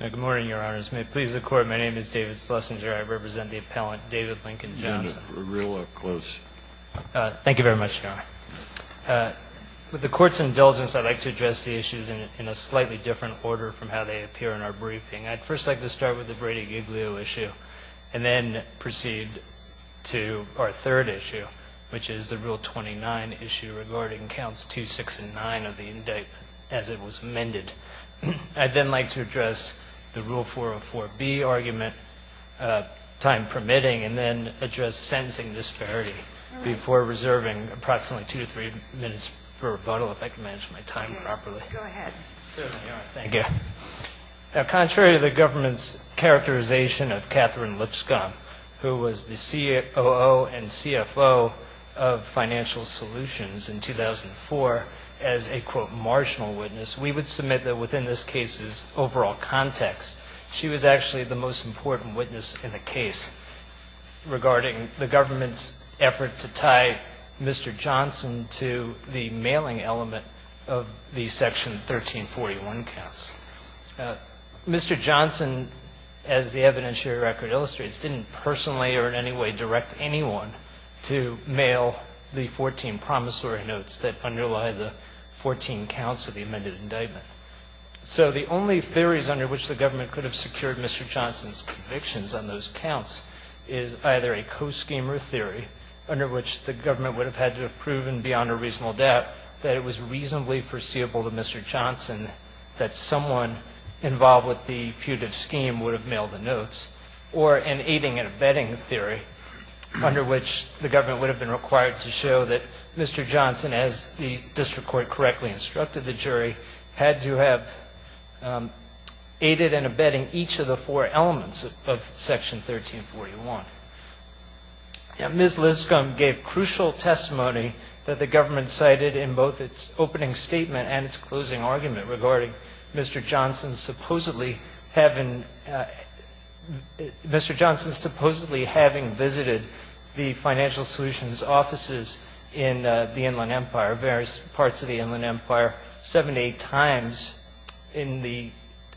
Good morning, Your Honors. May it please the Court, my name is David Schlesinger. I represent the appellant David Lincoln Johnson. Thank you very much, Your Honor. With the Court's indulgence, I'd like to address the issues in a slightly different order from how they appear in our briefing. I'd first like to start with the Brady-Giglio issue and then proceed to our third issue, which is the Rule 29 issue regarding Counts 2, 6, and 9 of the indictment as it was amended. I'd then like to address the Rule 404B argument, time permitting, and then address sentencing disparity before reserving approximately two to three minutes for rebuttal, if I can manage my time properly. Go ahead. Certainly, Your Honor. Thank you. Contrary to the government's characterization of Katherine Lipscomb, who was the COO and CFO of Financial Solutions in 2004, as a, quote, we would submit that within this case's overall context, she was actually the most important witness in the case regarding the government's effort to tie Mr. Johnson to the mailing element of the Section 1341 counts. Mr. Johnson, as the evidentiary record illustrates, didn't personally or in any way direct anyone to mail the 14 promissory notes that underlie the 14 counts of the amended indictment. So the only theories under which the government could have secured Mr. Johnson's convictions on those counts is either a co-scheme or theory under which the government would have had to have proven beyond a reasonable doubt that it was reasonably foreseeable to Mr. Johnson that someone involved with the putative scheme would have mailed the notes, or an aiding and abetting theory under which the government would have been required to show that Mr. Johnson, as the district court correctly instructed the jury, had to have aided in abetting each of the four elements of Section 1341. Ms. Lizgum gave crucial testimony that the government cited in both its opening statement and its closing argument regarding Mr. Johnson supposedly having visited the Financial Solutions offices in the Inland Empire, various parts of the Inland Empire, seven to eight times in the,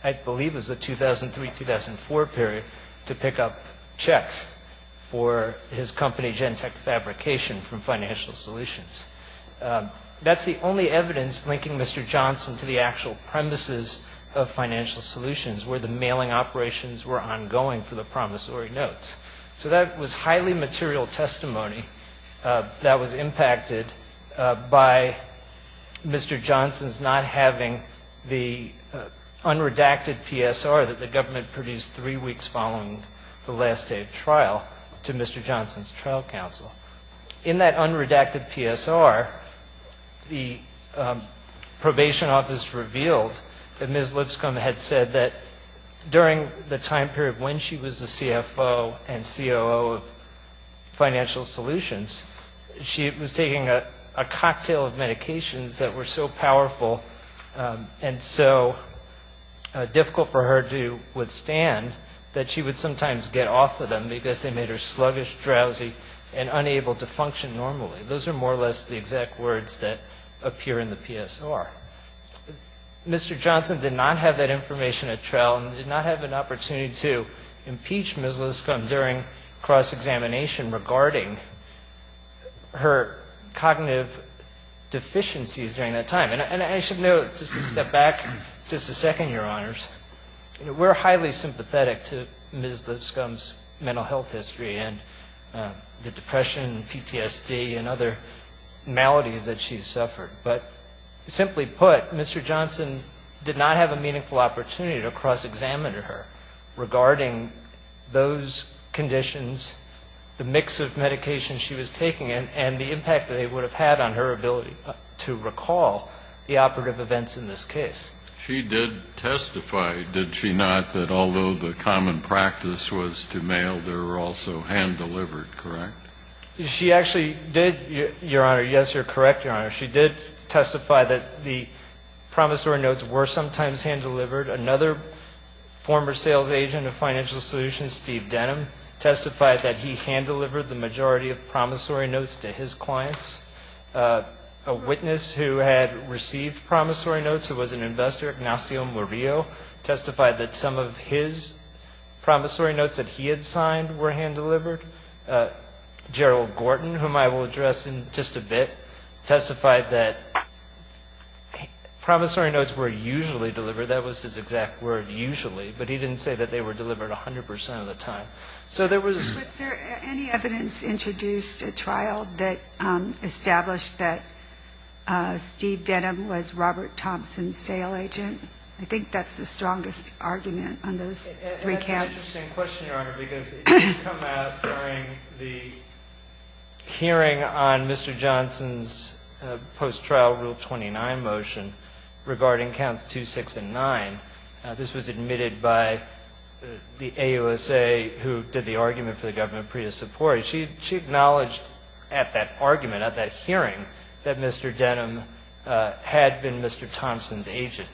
I believe it was the 2003-2004 period, to pick up checks for his company, Gentech Fabrication, from Financial Solutions. That's the only evidence linking Mr. Johnson to the actual premises of Financial Solutions where the mailing operations were ongoing for the promissory notes. So that was highly material testimony that was impacted by Mr. Johnson's not having the unredacted PSR that the government produced three weeks following the last day of trial to Mr. Johnson's trial counsel. In that unredacted PSR, the probation office revealed that Ms. Lizgum had said that during the time period when she was the CFO and COO of Financial Solutions, she was taking a cocktail of medications that were so powerful and so difficult for her to withstand that she would sometimes get off of them because they made her sluggish, drowsy, and unable to function normally. Those are more or less the exact words that appear in the PSR. Mr. Johnson did not have that information at trial and did not have an opportunity to impeach Ms. Lizgum during cross-examination regarding her cognitive deficiencies during that time. And I should note, just to step back just a second, Your Honors, we're highly sympathetic to Ms. Lizgum's mental health history and the depression and PTSD and other maladies that she's suffered. But simply put, Mr. Johnson did not have a meaningful opportunity to cross-examine her regarding those conditions, the mix of medications she was taking, and the impact that it would have had on her ability to recall the operative events in this case. She did testify, did she not, that although the common practice was to mail, there were also hand-delivered, correct? She actually did, Your Honor. Yes, you're correct, Your Honor. She did testify that the promissory notes were sometimes hand-delivered. Another former sales agent of Financial Solutions, Steve Denham, testified that he hand-delivered the majority of promissory notes to his clients. A witness who had received promissory notes, who was an investor, Ignacio Murillo, testified that some of his promissory notes that he had signed were hand-delivered. Gerald Gorton, whom I will address in just a bit, testified that promissory notes were usually delivered. That was his exact word, usually, but he didn't say that they were delivered 100% of the time. Was there any evidence introduced at trial that established that Steve Denham was Robert Thompson's sale agent? I think that's the strongest argument on those three counts. That's an interesting question, Your Honor, because it did come out during the hearing on Mr. Johnson's post-trial Rule 29 motion regarding counts 2, 6, and 9. This was admitted by the AUSA, who did the argument for the government pre-dissiporation. She acknowledged at that argument, at that hearing, that Mr. Denham had been Mr. Thompson's agent.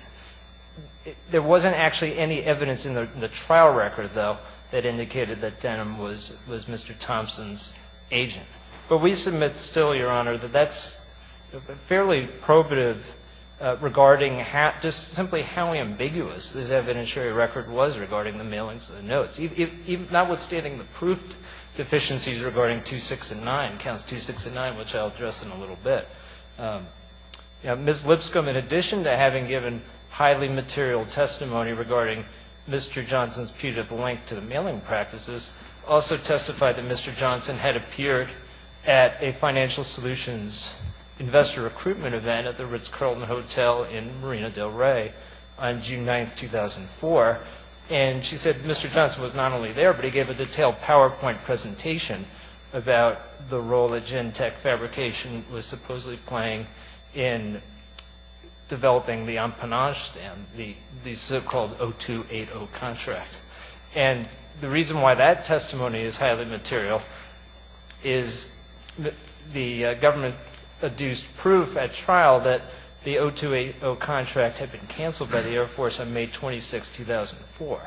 There wasn't actually any evidence in the trial record, though, that indicated that Denham was Mr. Thompson's agent. But we submit still, Your Honor, that that's fairly probative regarding just simply how ambiguous this evidentiary record was regarding the mailings of the notes. Notwithstanding the proof deficiencies regarding 2, 6, and 9, counts 2, 6, and 9, which I'll address in a little bit, Ms. Lipscomb, in addition to having given highly material testimony regarding Mr. Johnson's putative link to the mailing practices, also testified that Mr. Johnson had appeared at a financial solutions investor recruitment event at the Ritz-Carlton Hotel in Marina del Rey on June 9, 2004. And she said Mr. Johnson was not only there, but he gave a detailed PowerPoint presentation about the role that gen-tech fabrication was supposedly playing in developing the empennage, the so-called 0280 contract. And the reason why that testimony is highly material is the government adduced proof at trial that the 0280 contract had been canceled by the Air Force on May 26, 2004.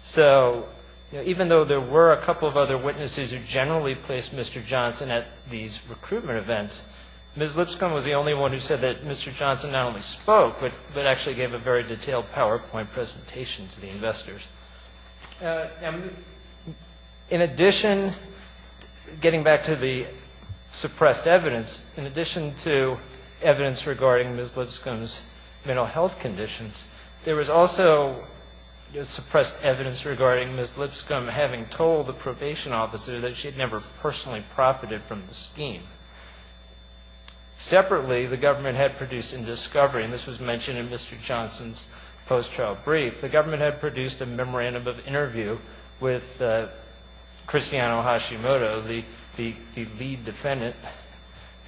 So even though there were a couple of other witnesses who generally placed Mr. Johnson at these recruitment events, Ms. Lipscomb was the only one who said that Mr. Johnson not only spoke, but actually gave a very detailed PowerPoint presentation to the investors. In addition, getting back to the suppressed evidence, in addition to evidence regarding Ms. Lipscomb's mental health conditions, there was also suppressed evidence regarding Ms. Lipscomb having told the probation officer that she had never personally profited from the scheme. Separately, the government had produced in discovery, and this was mentioned in Mr. Johnson's post-trial brief, the government had produced a memorandum of interview with Christiano Hashimoto, the lead defendant,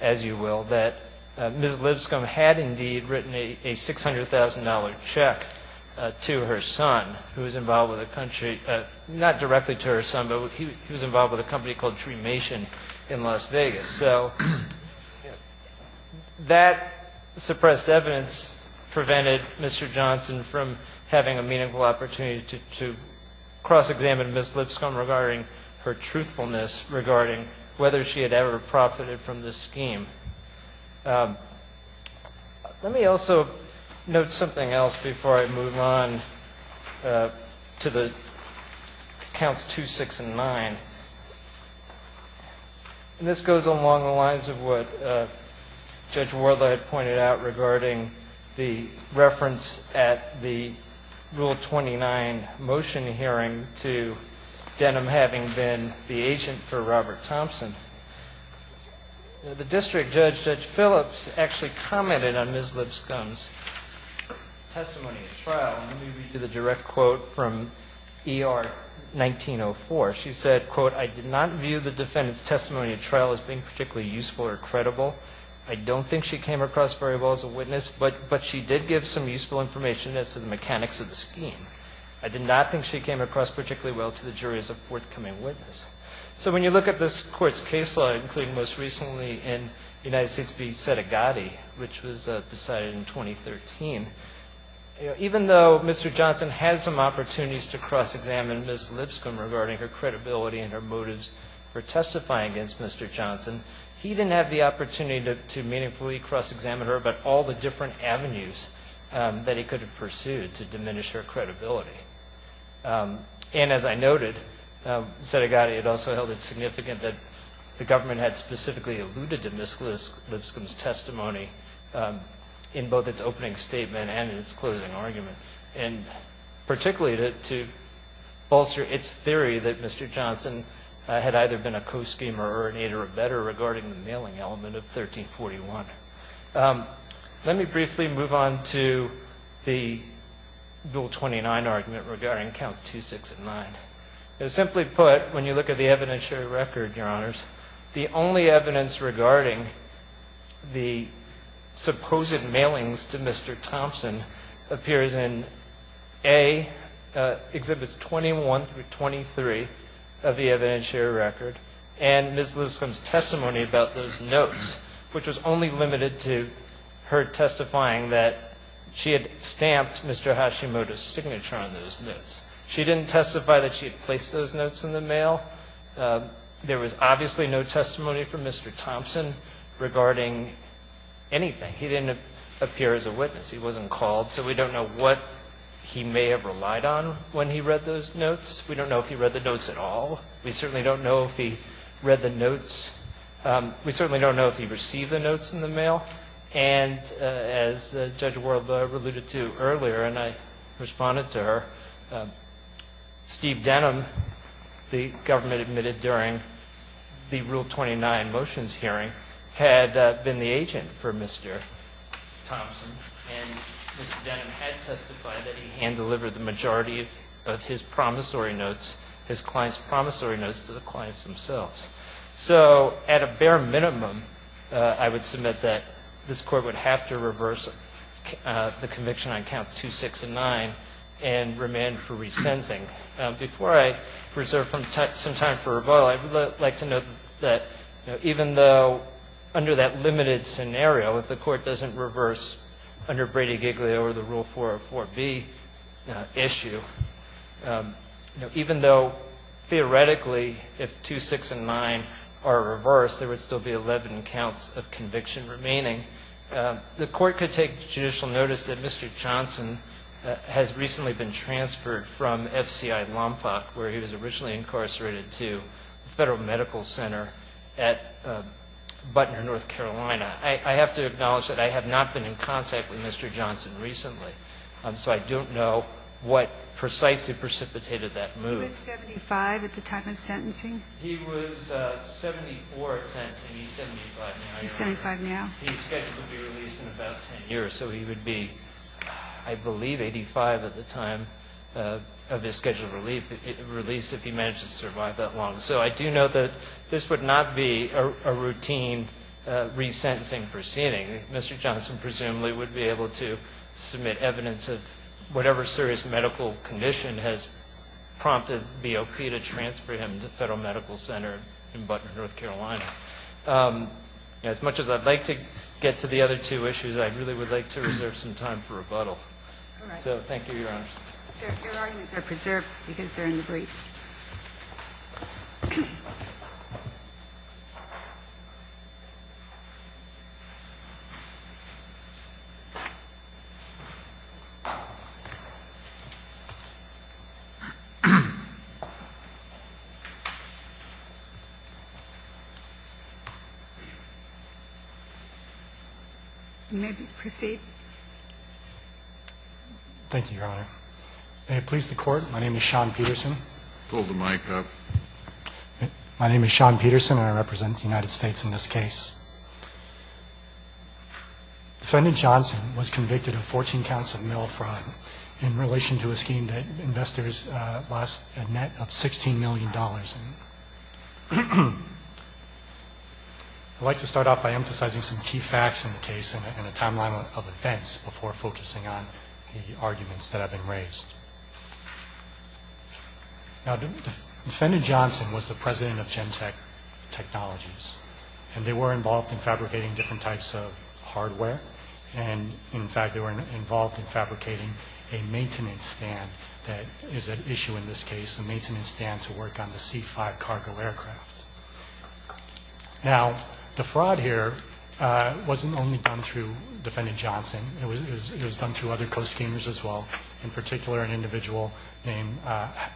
as you will, that Ms. Lipscomb had indeed written a $600,000 check to her son, who was involved with a country, not directly to her son, but he was involved with a company called Tremation in Las Vegas. So that suppressed evidence prevented Mr. Johnson from having a meaningful opportunity to cross-examine Ms. Lipscomb regarding her truthfulness regarding whether she had ever profited from this scheme. Let me also note something else before I move on to the Counts 2, 6, and 9. And this goes along the lines of what Judge Worley had pointed out regarding the reference at the Rule 29 motion hearing to Denham having been the agent for Robert Thompson. The district judge, Judge Phillips, actually commented on Ms. Lipscomb's testimony at trial. Let me read you the direct quote from ER 1904. She said, quote, I did not view the defendant's testimony at trial as being particularly useful or credible. I don't think she came across very well as a witness, but she did give some useful information as to the mechanics of the scheme. I did not think she came across particularly well to the jury as a forthcoming witness. So when you look at this Court's case law, including most recently in United States v. Settigati, which was decided in 2013, even though Mr. Johnson had some opportunities to cross-examine Ms. Lipscomb regarding her credibility and her motives for testifying against Mr. Johnson, he didn't have the opportunity to meaningfully cross-examine her about all the different avenues that he could have pursued to diminish her credibility. And as I noted, Settigati had also held it significant that the government had specifically alluded to Ms. Lipscomb's testimony in both its opening statement and in its closing argument, and particularly to bolster its theory that Mr. Johnson had either been a co-schemer or an aid or a better regarding the mailing element of 1341. Let me briefly move on to the Bill 29 argument regarding Counts 2, 6, and 9. Simply put, when you look at the evidentiary record, Your Honors, the only evidence regarding the supposed mailings to Mr. Thompson appears in A, Exhibits 21 through 23 of the evidentiary record, and Ms. Lipscomb's testimony about those notes, which was only limited to her testifying that she had stamped Mr. Hashimoto's signature on those notes. She didn't testify that she had placed those notes in the mail. There was obviously no testimony from Mr. Thompson regarding anything. He didn't appear as a witness. He wasn't called, so we don't know what he may have relied on when he read those notes. We don't know if he read the notes at all. We certainly don't know if he read the notes. We certainly don't know if he received the notes in the mail. And as Judge Ward alluded to earlier, and I responded to her, Steve Denham, the government admitted during the Rule 29 motions hearing, had been the agent for Mr. Thompson. And Mr. Denham had testified that he hand-delivered the majority of his promissory notes, his client's promissory notes, to the clients themselves. So at a bare minimum, I would submit that this Court would have to reverse the conviction on Counts 2, 6, and 9 and remand for resensing. Before I reserve some time for rebuttal, I would like to note that even though under that limited scenario, if the Court doesn't reverse under Brady-Giglio or the Rule 404b issue, even though theoretically if 2, 6, and 9 are reversed, there would still be 11 counts of conviction remaining, the Court could take judicial notice that Mr. Johnson has recently been transferred from FCI Lompoc, where he was originally incarcerated, to the Federal Medical Center at Butner, North Carolina. I have to acknowledge that I have not been in contact with Mr. Johnson recently, so I don't know what precisely precipitated that move. He was 75 at the time of sentencing? He was 74 at sentencing. He's 75 now. He's 75 now. His schedule would be released in about 10 years. So he would be, I believe, 85 at the time of his scheduled release if he managed to survive that long. So I do note that this would not be a routine resentencing proceeding. Mr. Johnson presumably would be able to submit evidence of whatever serious medical condition has prompted BOP to transfer him to Federal Medical Center in Butner, North Carolina. As much as I'd like to get to the other two issues, I really would like to reserve some time for rebuttal. All right. So thank you, Your Honors. Your arguments are preserved because they're in the briefs. You may proceed. Thank you, Your Honor. May it please the Court, my name is Sean Peterson. Pull the mic up. My name is Sean Peterson, and I represent the United States in this case. Defendant Johnson was convicted of 14 counts of mail fraud in relation to a scheme that investors lost a net of $16 million. And I'd like to start off by emphasizing some key facts in the case and a timeline of events before focusing on the arguments that have been raised. Now, Defendant Johnson was the president of Gentech Technologies, and they were involved in fabricating different types of hardware. And, in fact, they were involved in fabricating a maintenance stand that is at issue in this case, a maintenance stand to work on the C-5 cargo aircraft. Now, the fraud here wasn't only done through Defendant Johnson. It was done through other co-schemers as well, in particular an individual named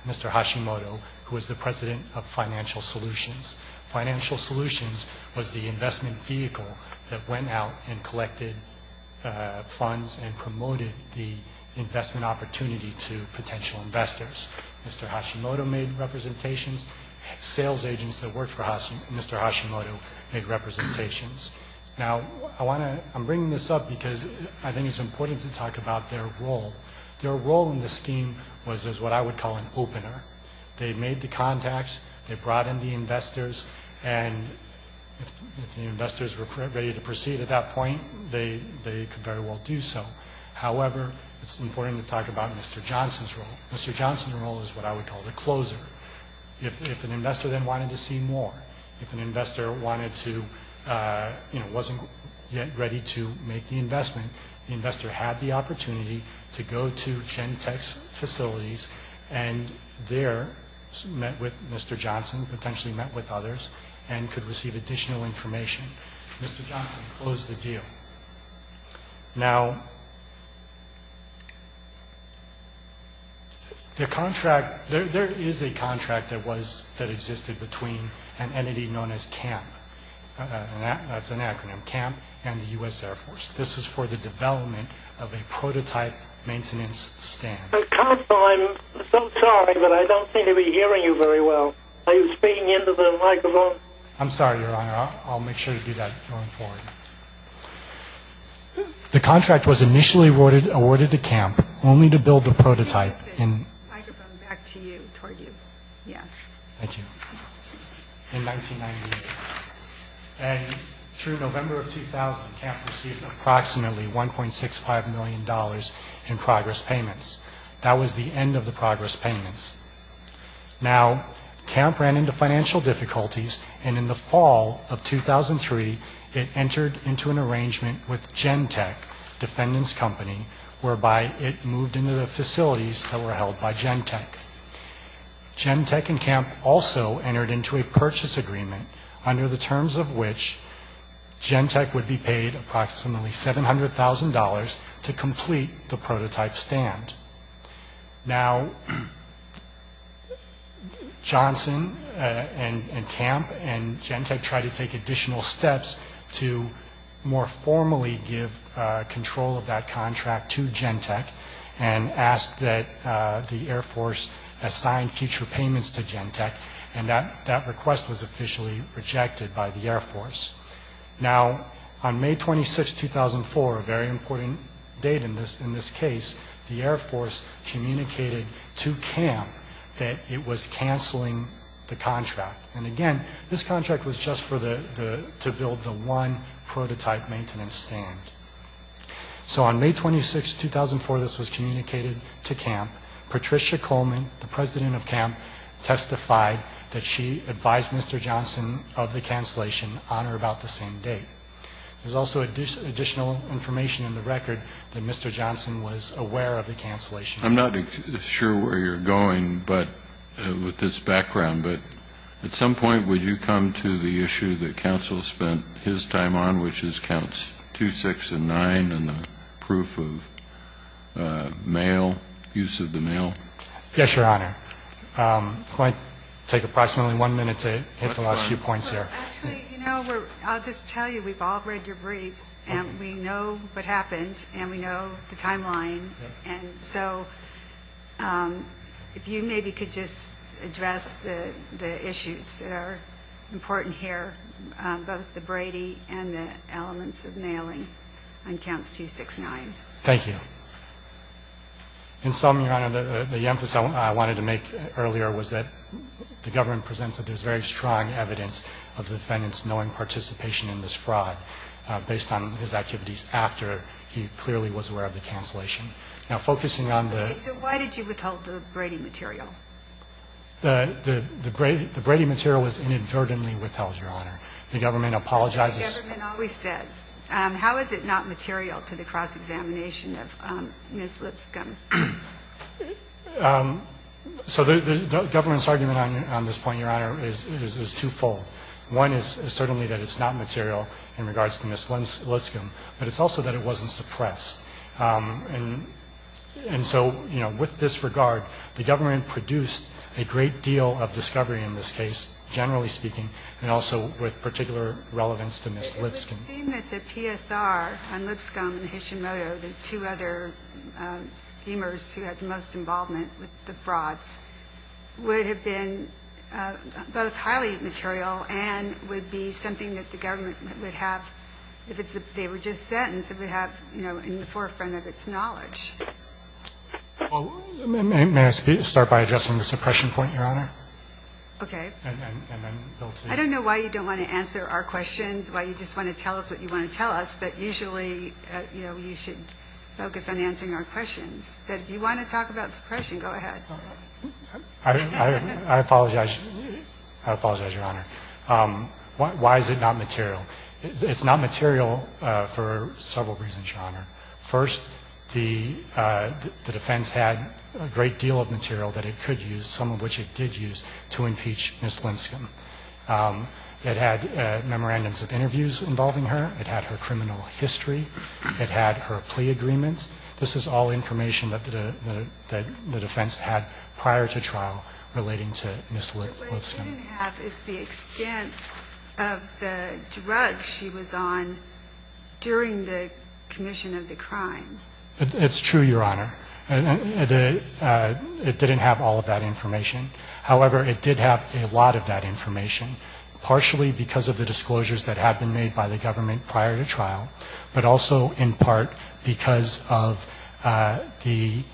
Mr. Hashimoto, who was the president of Financial Solutions. Financial Solutions was the investment vehicle that went out and collected funds and promoted the investment opportunity to potential investors. Mr. Hashimoto made representations. Sales agents that worked for Mr. Hashimoto made representations. Now, I'm bringing this up because I think it's important to talk about their role. Their role in the scheme was what I would call an opener. They made the contacts, they brought in the investors, and if the investors were ready to proceed at that point, they could very well do so. However, it's important to talk about Mr. Johnson's role. Mr. Johnson's role is what I would call the closer. If an investor then wanted to see more, if an investor wanted to, you know, wasn't yet ready to make the investment, the investor had the opportunity to go to Gen Tech's facilities and there met with Mr. Johnson, potentially met with others, and could receive additional information. Mr. Johnson closed the deal. Now, the contract, there is a contract that was, that existed between an entity known as CAMP, that's an acronym, CAMP and the U.S. Air Force. This was for the development of a prototype maintenance stand. I'm so sorry, but I don't seem to be hearing you very well. Are you speaking into the microphone? I'm sorry, Your Honor. I'll make sure to do that going forward. The contract was initially awarded to CAMP only to build the prototype in 1998. And through November of 2000, CAMP received approximately $1.65 million in progress payments. That was the end of the progress payments. Now, CAMP ran into financial difficulties, and in the fall of 2003, it entered into an arrangement with Gen Tech, a defendants company, whereby it moved into the facilities that were held by Gen Tech. Gen Tech and CAMP also entered into a purchase agreement under the terms of which Gen Tech would be paid approximately $700,000 to complete the prototype stand. Now, Johnson and CAMP and Gen Tech tried to take additional steps to more formally give control of that contract to Gen Tech and ask that the Air Force assign future payments to Gen Tech, and that request was officially rejected by the Air Force. Now, on May 26, 2004, a very important date in this case, the Air Force communicated to CAMP that it was canceling the contract. And again, this contract was just to build the one prototype maintenance stand. So on May 26, 2004, this was communicated to CAMP. Patricia Coleman, the president of CAMP, testified that she advised Mr. Johnson of the cancellation on or about the same date. There's also additional information in the record that Mr. Johnson was aware of the cancellation. I'm not sure where you're going with this background, but at some point would you come to the issue that counsel spent his time on, which is counts 2, 6, and 9 and the proof of mail, use of the mail? Yes, Your Honor. It might take approximately one minute to hit the last few points there. Actually, you know, I'll just tell you, we've all read your briefs, and we know what happened, and we know the timeline. And so if you maybe could just address the issues that are important here, both the Brady and the elements of mailing on counts 2, 6, 9. Thank you. In sum, Your Honor, the emphasis I wanted to make earlier was that the government presents that there's very strong evidence of the defendant's knowing participation in this fraud based on his activities after he clearly was aware of the cancellation. Now, focusing on the ---- Okay. So why did you withhold the Brady material? The Brady material was inadvertently withheld, Your Honor. The government apologizes ---- The government always says. How is it not material to the cross-examination of Ms. Lipscomb? So the government's argument on this point, Your Honor, is twofold. One is certainly that it's not material in regards to Ms. Lipscomb, but it's also that it wasn't suppressed. And so, you know, with this regard, the government produced a great deal of discovery in this case, generally speaking, and also with particular relevance to Ms. Lipscomb. It seems that the PSR on Lipscomb and Hishimoto, the two other schemers who had the most involvement with the frauds, would have been both highly material and would be something that the government would have if they were just sentenced, it would have, you know, in the forefront of its knowledge. May I start by addressing the suppression point, Your Honor? Okay. And then Bill Teague. I don't know why you don't want to answer our questions, why you just want to tell us what you want to tell us, but usually, you know, you should focus on answering our questions. But if you want to talk about suppression, go ahead. I apologize. I apologize, Your Honor. Why is it not material? It's not material for several reasons, Your Honor. First, the defense had a great deal of material that it could use, some of which it did use, to impeach Ms. Lipscomb. It had memorandums of interviews involving her. It had her criminal history. It had her plea agreements. This is all information that the defense had prior to trial relating to Ms. Lipscomb. What it didn't have is the extent of the drugs she was on during the commission of the crime. It's true, Your Honor. It didn't have all of that information. However, it did have a lot of that information, partially because of the disclosures that had been made by the government prior to trial, but also in part because of the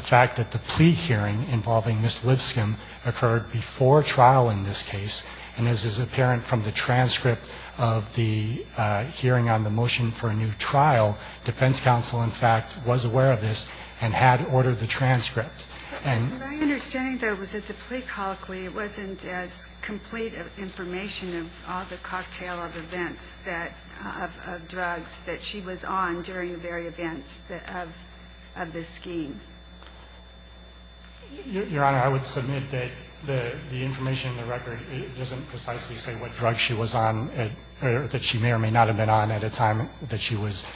fact that the plea hearing involving Ms. Lipscomb occurred before trial in this case. And this is apparent from the transcript of the hearing on the motion for a new trial. Defense counsel, in fact, was aware of this and had ordered the transcript. And my understanding, though, was that the plea colloquy, it wasn't as complete information of all the cocktail of events, of drugs that she was on during the very events of this scheme. Your Honor, I would submit that the information in the record doesn't precisely say what drugs she was on or that she may or may not have been on at a time that she was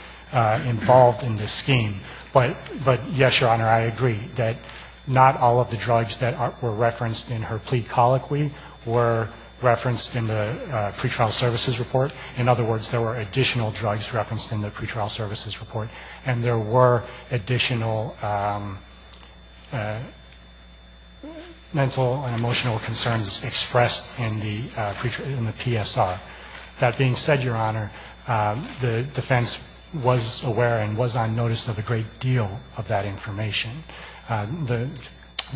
involved in this scheme. But, yes, Your Honor, I agree that not all of the drugs that were referenced in her plea colloquy were referenced in the pretrial services report. In other words, there were additional drugs referenced in the pretrial services report, and there were additional mental and emotional concerns expressed in the PSR. That being said, Your Honor, the defense was aware and was on notice of a great deal of that information. The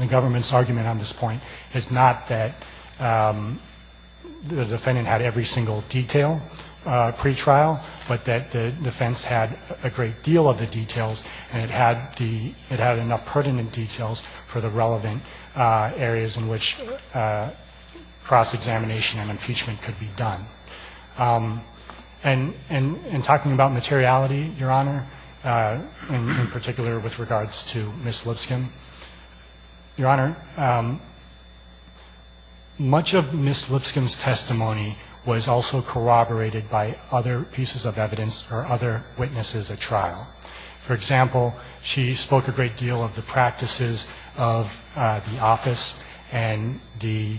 government's argument on this point is not that the defendant had every single detail pretrial, but that the defense had a great deal of the details, and it had enough pertinent details for the relevant areas in which cross-examination and impeachment could be done. And in talking about materiality, Your Honor, in particular with regards to Ms. Lipscomb, Your Honor, much of Ms. Lipscomb's testimony was also corroborated by other pieces of evidence or other witnesses at trial. For example, she spoke a great deal of the practices of the office and the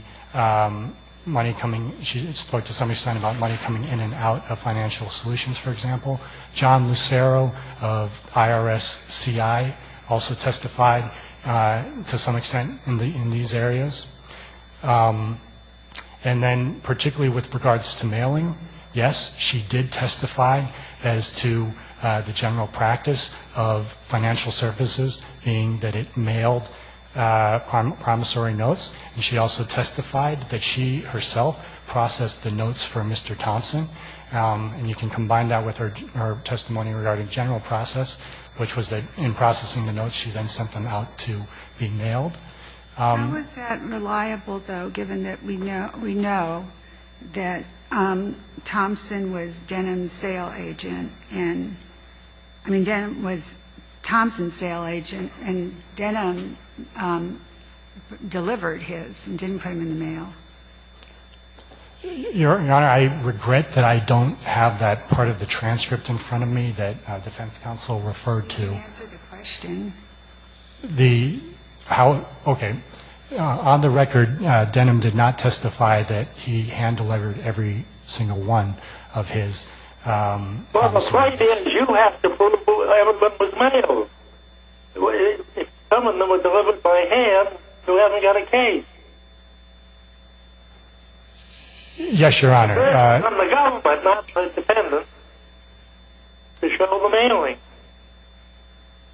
money coming, she spoke to some extent about money coming in and out of financial solutions, for example. John Lucero of IRS-CI also testified to some extent in these areas. And then particularly with regards to mailing, yes, she did testify as to the general practices of financial services, being that it mailed promissory notes. And she also testified that she herself processed the notes for Mr. Thompson. And you can combine that with her testimony regarding general process, which was that in processing the notes, she then sent them out to be mailed. How was that reliable, though, given that we know that Thompson was Denham's sale agent and, I mean, Denham was Thompson's sale agent, and Denham delivered his and didn't put him in the mail? Your Honor, I regret that I don't have that part of the transcript in front of me that defense counsel referred to. Can you answer the question? Okay. On the record, Denham did not testify that he hand-delivered every single one of his notes. That's right, because you have to prove whoever put them in the mail. If some of them were delivered by hand, who hasn't got a case? Yes, Your Honor. It's on the gun, but not the defendant to show the mailing.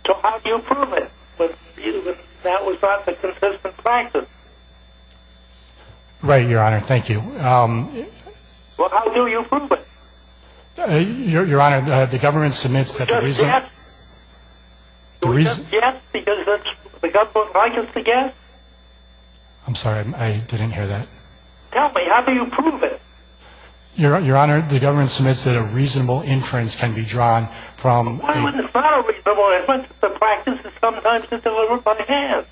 So how do you prove it, if that was not the consistent practice? Right, Your Honor. Thank you. Well, how do you prove it? Your Honor, the government submits that the reason... We just guess? We just guess because the government likes us to guess? I'm sorry, I didn't hear that. Tell me, how do you prove it? Your Honor, the government submits that a reasonable inference can be drawn from... Why was it not a reasonable inference if the practice is sometimes to deliver by hand?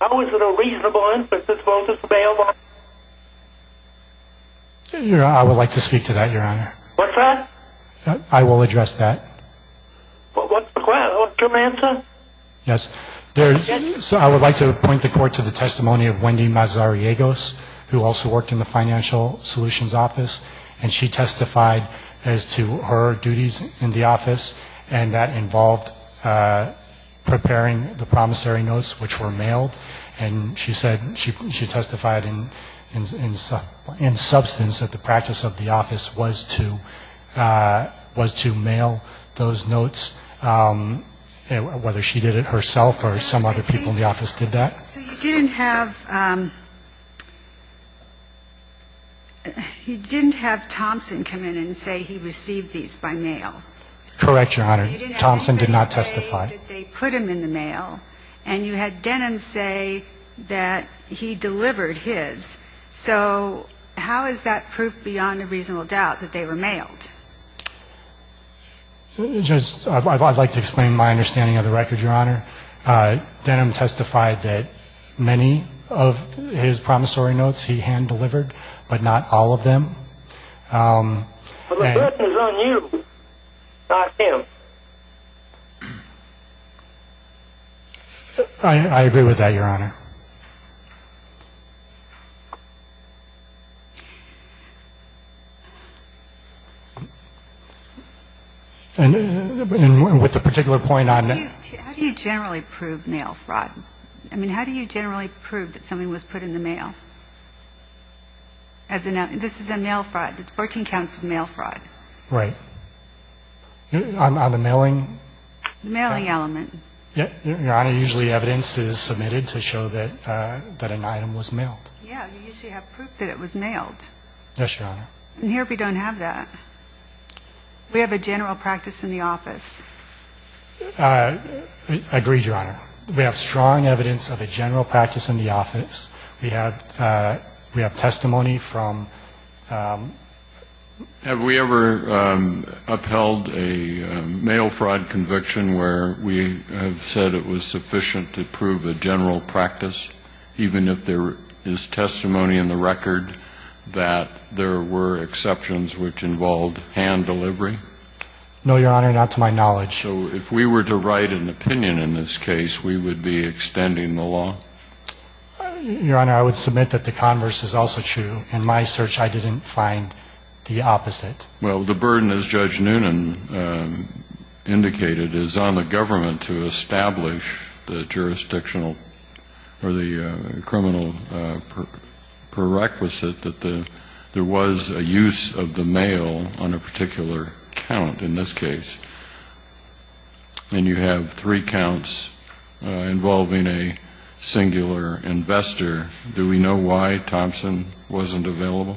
How is it a reasonable inference if both are available? Your Honor, I would like to speak to that, Your Honor. What's that? I will address that. What's the question? Give me an answer. Yes. I would like to point the court to the testimony of Wendy Mazariegos, who also worked in the Financial Solutions Office, and she testified as to her duties in the office, and that involved preparing the promissory notes, which were mailed. And she said she testified in substance that the practice of the office was to mail those notes, whether she did it herself or some other people in the office did that. So you didn't have Thompson come in and say he received these by mail? Correct, Your Honor. Thompson did not testify. You said that they put them in the mail, and you had Denham say that he delivered his. So how is that proof beyond a reasonable doubt that they were mailed? I would like to explain my understanding of the record, Your Honor. Denham testified that many of his promissory notes he hand-delivered, but not all of them. But the question is on you, not him. I agree with that, Your Honor. And with the particular point on the... How do you generally prove mail fraud? I mean, how do you generally prove that something was put in the mail? This is a mail fraud, 14 counts of mail fraud. Right. On the mailing? The mailing element. Your Honor, usually evidence is submitted to show that an item was mailed. Yeah, you usually have proof that it was mailed. Yes, Your Honor. And here we don't have that. We have a general practice in the office. I agree, Your Honor. We have strong evidence of a general practice in the office. We have testimony from... Have we ever upheld a mail fraud conviction where we have said it was sufficient to prove a general practice, even if there is testimony in the record that there were exceptions which involved hand delivery? No, Your Honor, not to my knowledge. So if we were to write an opinion in this case, we would be extending the law? Your Honor, I would submit that the converse is also true. In my search, I didn't find the opposite. Well, the burden, as Judge Noonan indicated, is on the government to establish the jurisdictional or the criminal prerequisite that there was a use of the mail on a particular count in this case. And you have three counts involving a singular investor. Do we know why Thompson wasn't available?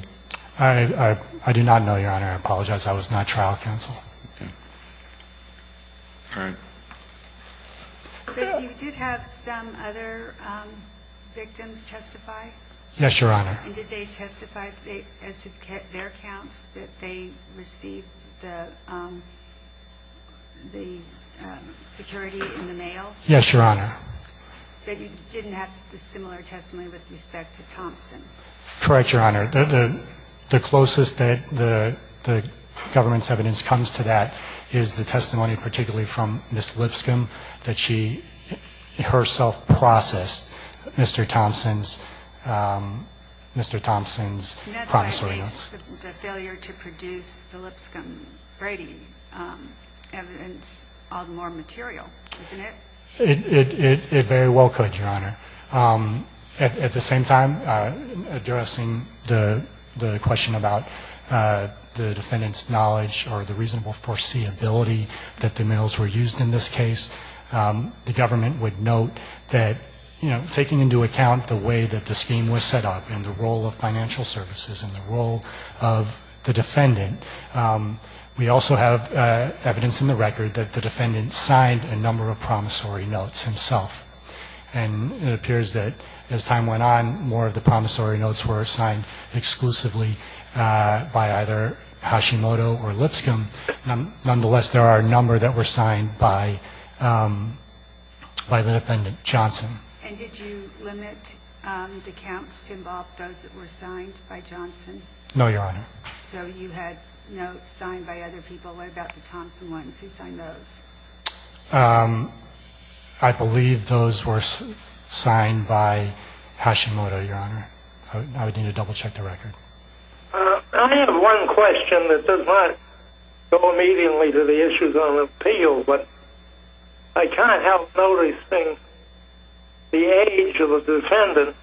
I do not know, Your Honor. I apologize. That was not trial counsel. Okay. All right. But you did have some other victims testify? Yes, Your Honor. And did they testify as to their counts that they received the security in the mail? Yes, Your Honor. But you didn't have a similar testimony with respect to Thompson? Correct, Your Honor. The closest that the government's evidence comes to that is the testimony particularly from Ms. Lipscomb that she herself processed Mr. Thompson's promissory notes. And that's why the failure to produce the Lipscomb-Grady evidence is all the more material, isn't it? It very well could, Your Honor. At the same time, addressing the question about the defendant's knowledge or the reasonable foreseeability that the mails were used in this case, the government would note that taking into account the way that the scheme was set up and the role of financial services and the role of the defendant, we also have evidence in the record that the defendant signed a number of promissory notes himself. And it appears that as time went on, more of the promissory notes were signed exclusively by either Hashimoto or Lipscomb. Nonetheless, there are a number that were signed by the defendant, Johnson. And did you limit the counts to involve those that were signed by Johnson? No, Your Honor. So you had notes signed by other people. What about the Thompson ones? Who signed those? I believe those were signed by Hashimoto, Your Honor. I would need to double-check the record. I have one question that does not go immediately to the issues on appeal, but I cannot help noticing the age of the defendant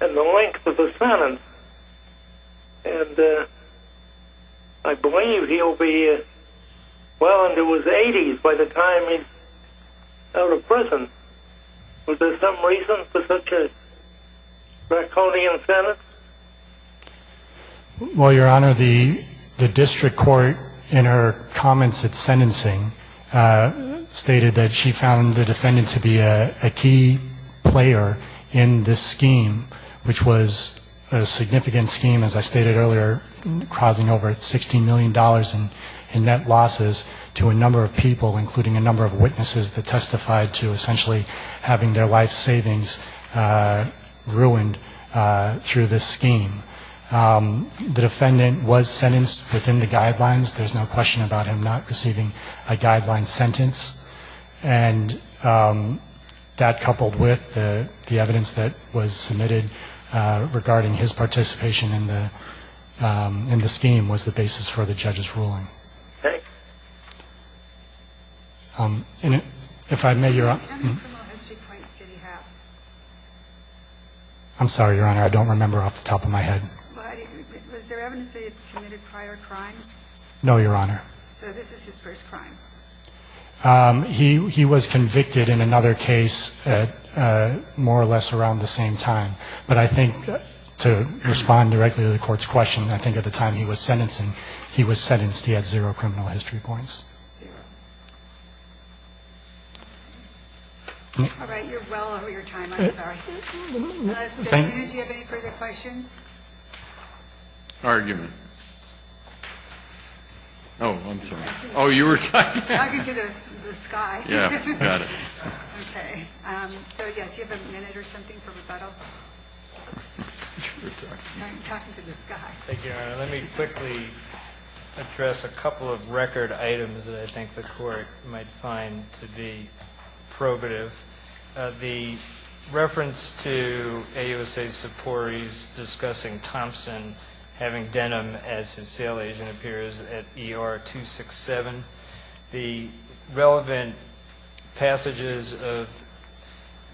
and the length of the sentence. And I believe he'll be well into his 80s by the time he's out of prison. Was there some reason for such a draconian sentence? Well, Your Honor, the district court in her comments at sentencing stated that she found the defendant to be a key player in this scheme, which was a significant scheme, as I stated earlier, causing over $16 million in net losses to a number of people, including a number of witnesses that testified to essentially having their life savings ruined through this scheme. The defendant was sentenced within the guidelines. There's no question about him not receiving a guideline sentence. And that, coupled with the evidence that was submitted regarding his participation in the scheme, was the basis for the judge's ruling. If I may, Your Honor. How many criminal history points did he have? I'm sorry, Your Honor. I don't remember off the top of my head. Was there evidence that he had committed prior crimes? No, Your Honor. So this is his first crime. He was convicted in another case at more or less around the same time. But I think, to respond directly to the court's question, I think at the time he was sentenced and he was sentenced, he had zero criminal history points. Zero. All right. You're well over your time. I'm sorry. Thank you. Do you have any further questions? Argument. Oh, I'm sorry. Oh, you were talking. Talking to the sky. Yeah. Got it. Okay. So, yes, do you have a minute or something for rebuttal? You were talking. I'm talking to the sky. Thank you, Your Honor. Let me quickly address a couple of record items that I think the court might find to be probative. The reference to AUSA's supportees discussing Thompson having denim as his sale agent appears at ER 267. The relevant passages of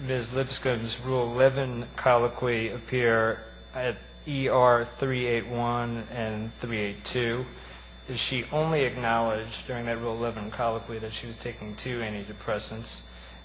Ms. Lipscomb's Rule 11 colloquy appear at ER 381 and 382. She only acknowledged during that Rule 11 colloquy that she was taking two antidepressants,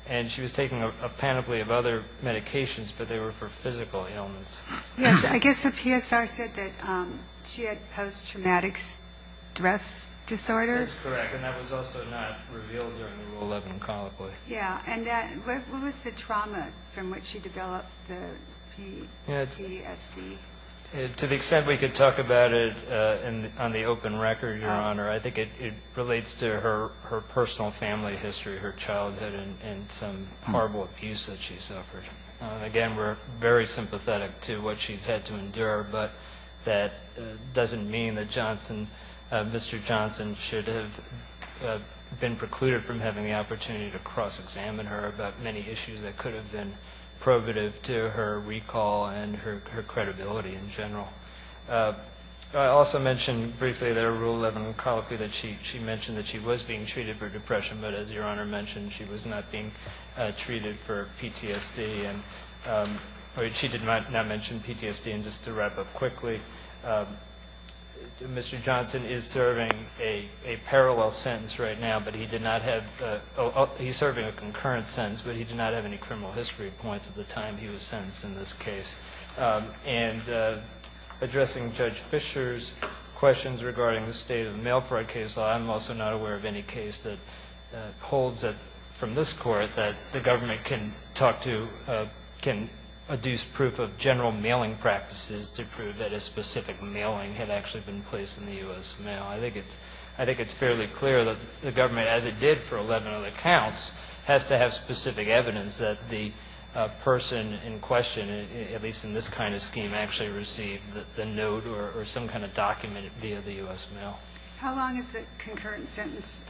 and she was taking a panoply of other medications, but they were for physical ailments. Yes. I guess the PSR said that she had post-traumatic stress disorder. That's correct, and that was also not revealed during the Rule 11 colloquy. Yeah. And what was the trauma from which she developed the PTSD? To the extent we could talk about it on the open record, Your Honor, I think it relates to her personal family history, her childhood, and some horrible abuse that she suffered. Again, we're very sympathetic to what she's had to endure, but that doesn't mean that Mr. Johnson should have been precluded from having the opportunity to cross-examine her about many issues that could have been probative to her recall and her credibility in general. I also mentioned briefly in the Rule 11 colloquy that she mentioned that she was being treated for depression, but as Your Honor mentioned, she was not being treated for PTSD. She did not mention PTSD. And just to wrap up quickly, Mr. Johnson is serving a parallel sentence right now, but he did not have any criminal history points at the time he was sentenced in this case. And addressing Judge Fischer's questions regarding the state of the mail fraud case, I'm also not aware of any case that holds from this Court that the government can talk to, can adduce proof of general mailing practices to prove that a specific mailing had actually been placed in the U.S. mail. I think it's fairly clear that the government, as it did for 11 other counts, has to have specific evidence that the person in question, at least in this kind of scheme, actually received the note or some kind of document via the U.S. mail. How long is the concurrent sentence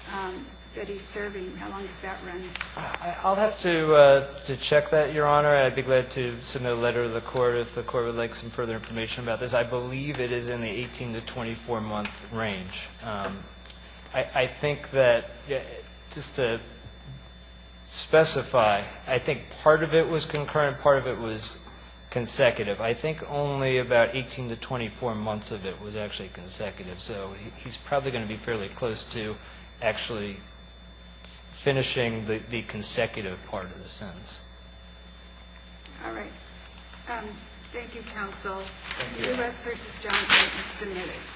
that he's serving? How long does that run? I'll have to check that, Your Honor. I'd be glad to send a letter to the Court if the Court would like some further information about this. I believe it is in the 18 to 24-month range. I think that just to specify, I think part of it was concurrent, part of it was consecutive. I think only about 18 to 24 months of it was actually consecutive. So he's probably going to be fairly close to actually finishing the consecutive part of the sentence. All right. Thank you, counsel. The U.S. v. Johnson is submitted.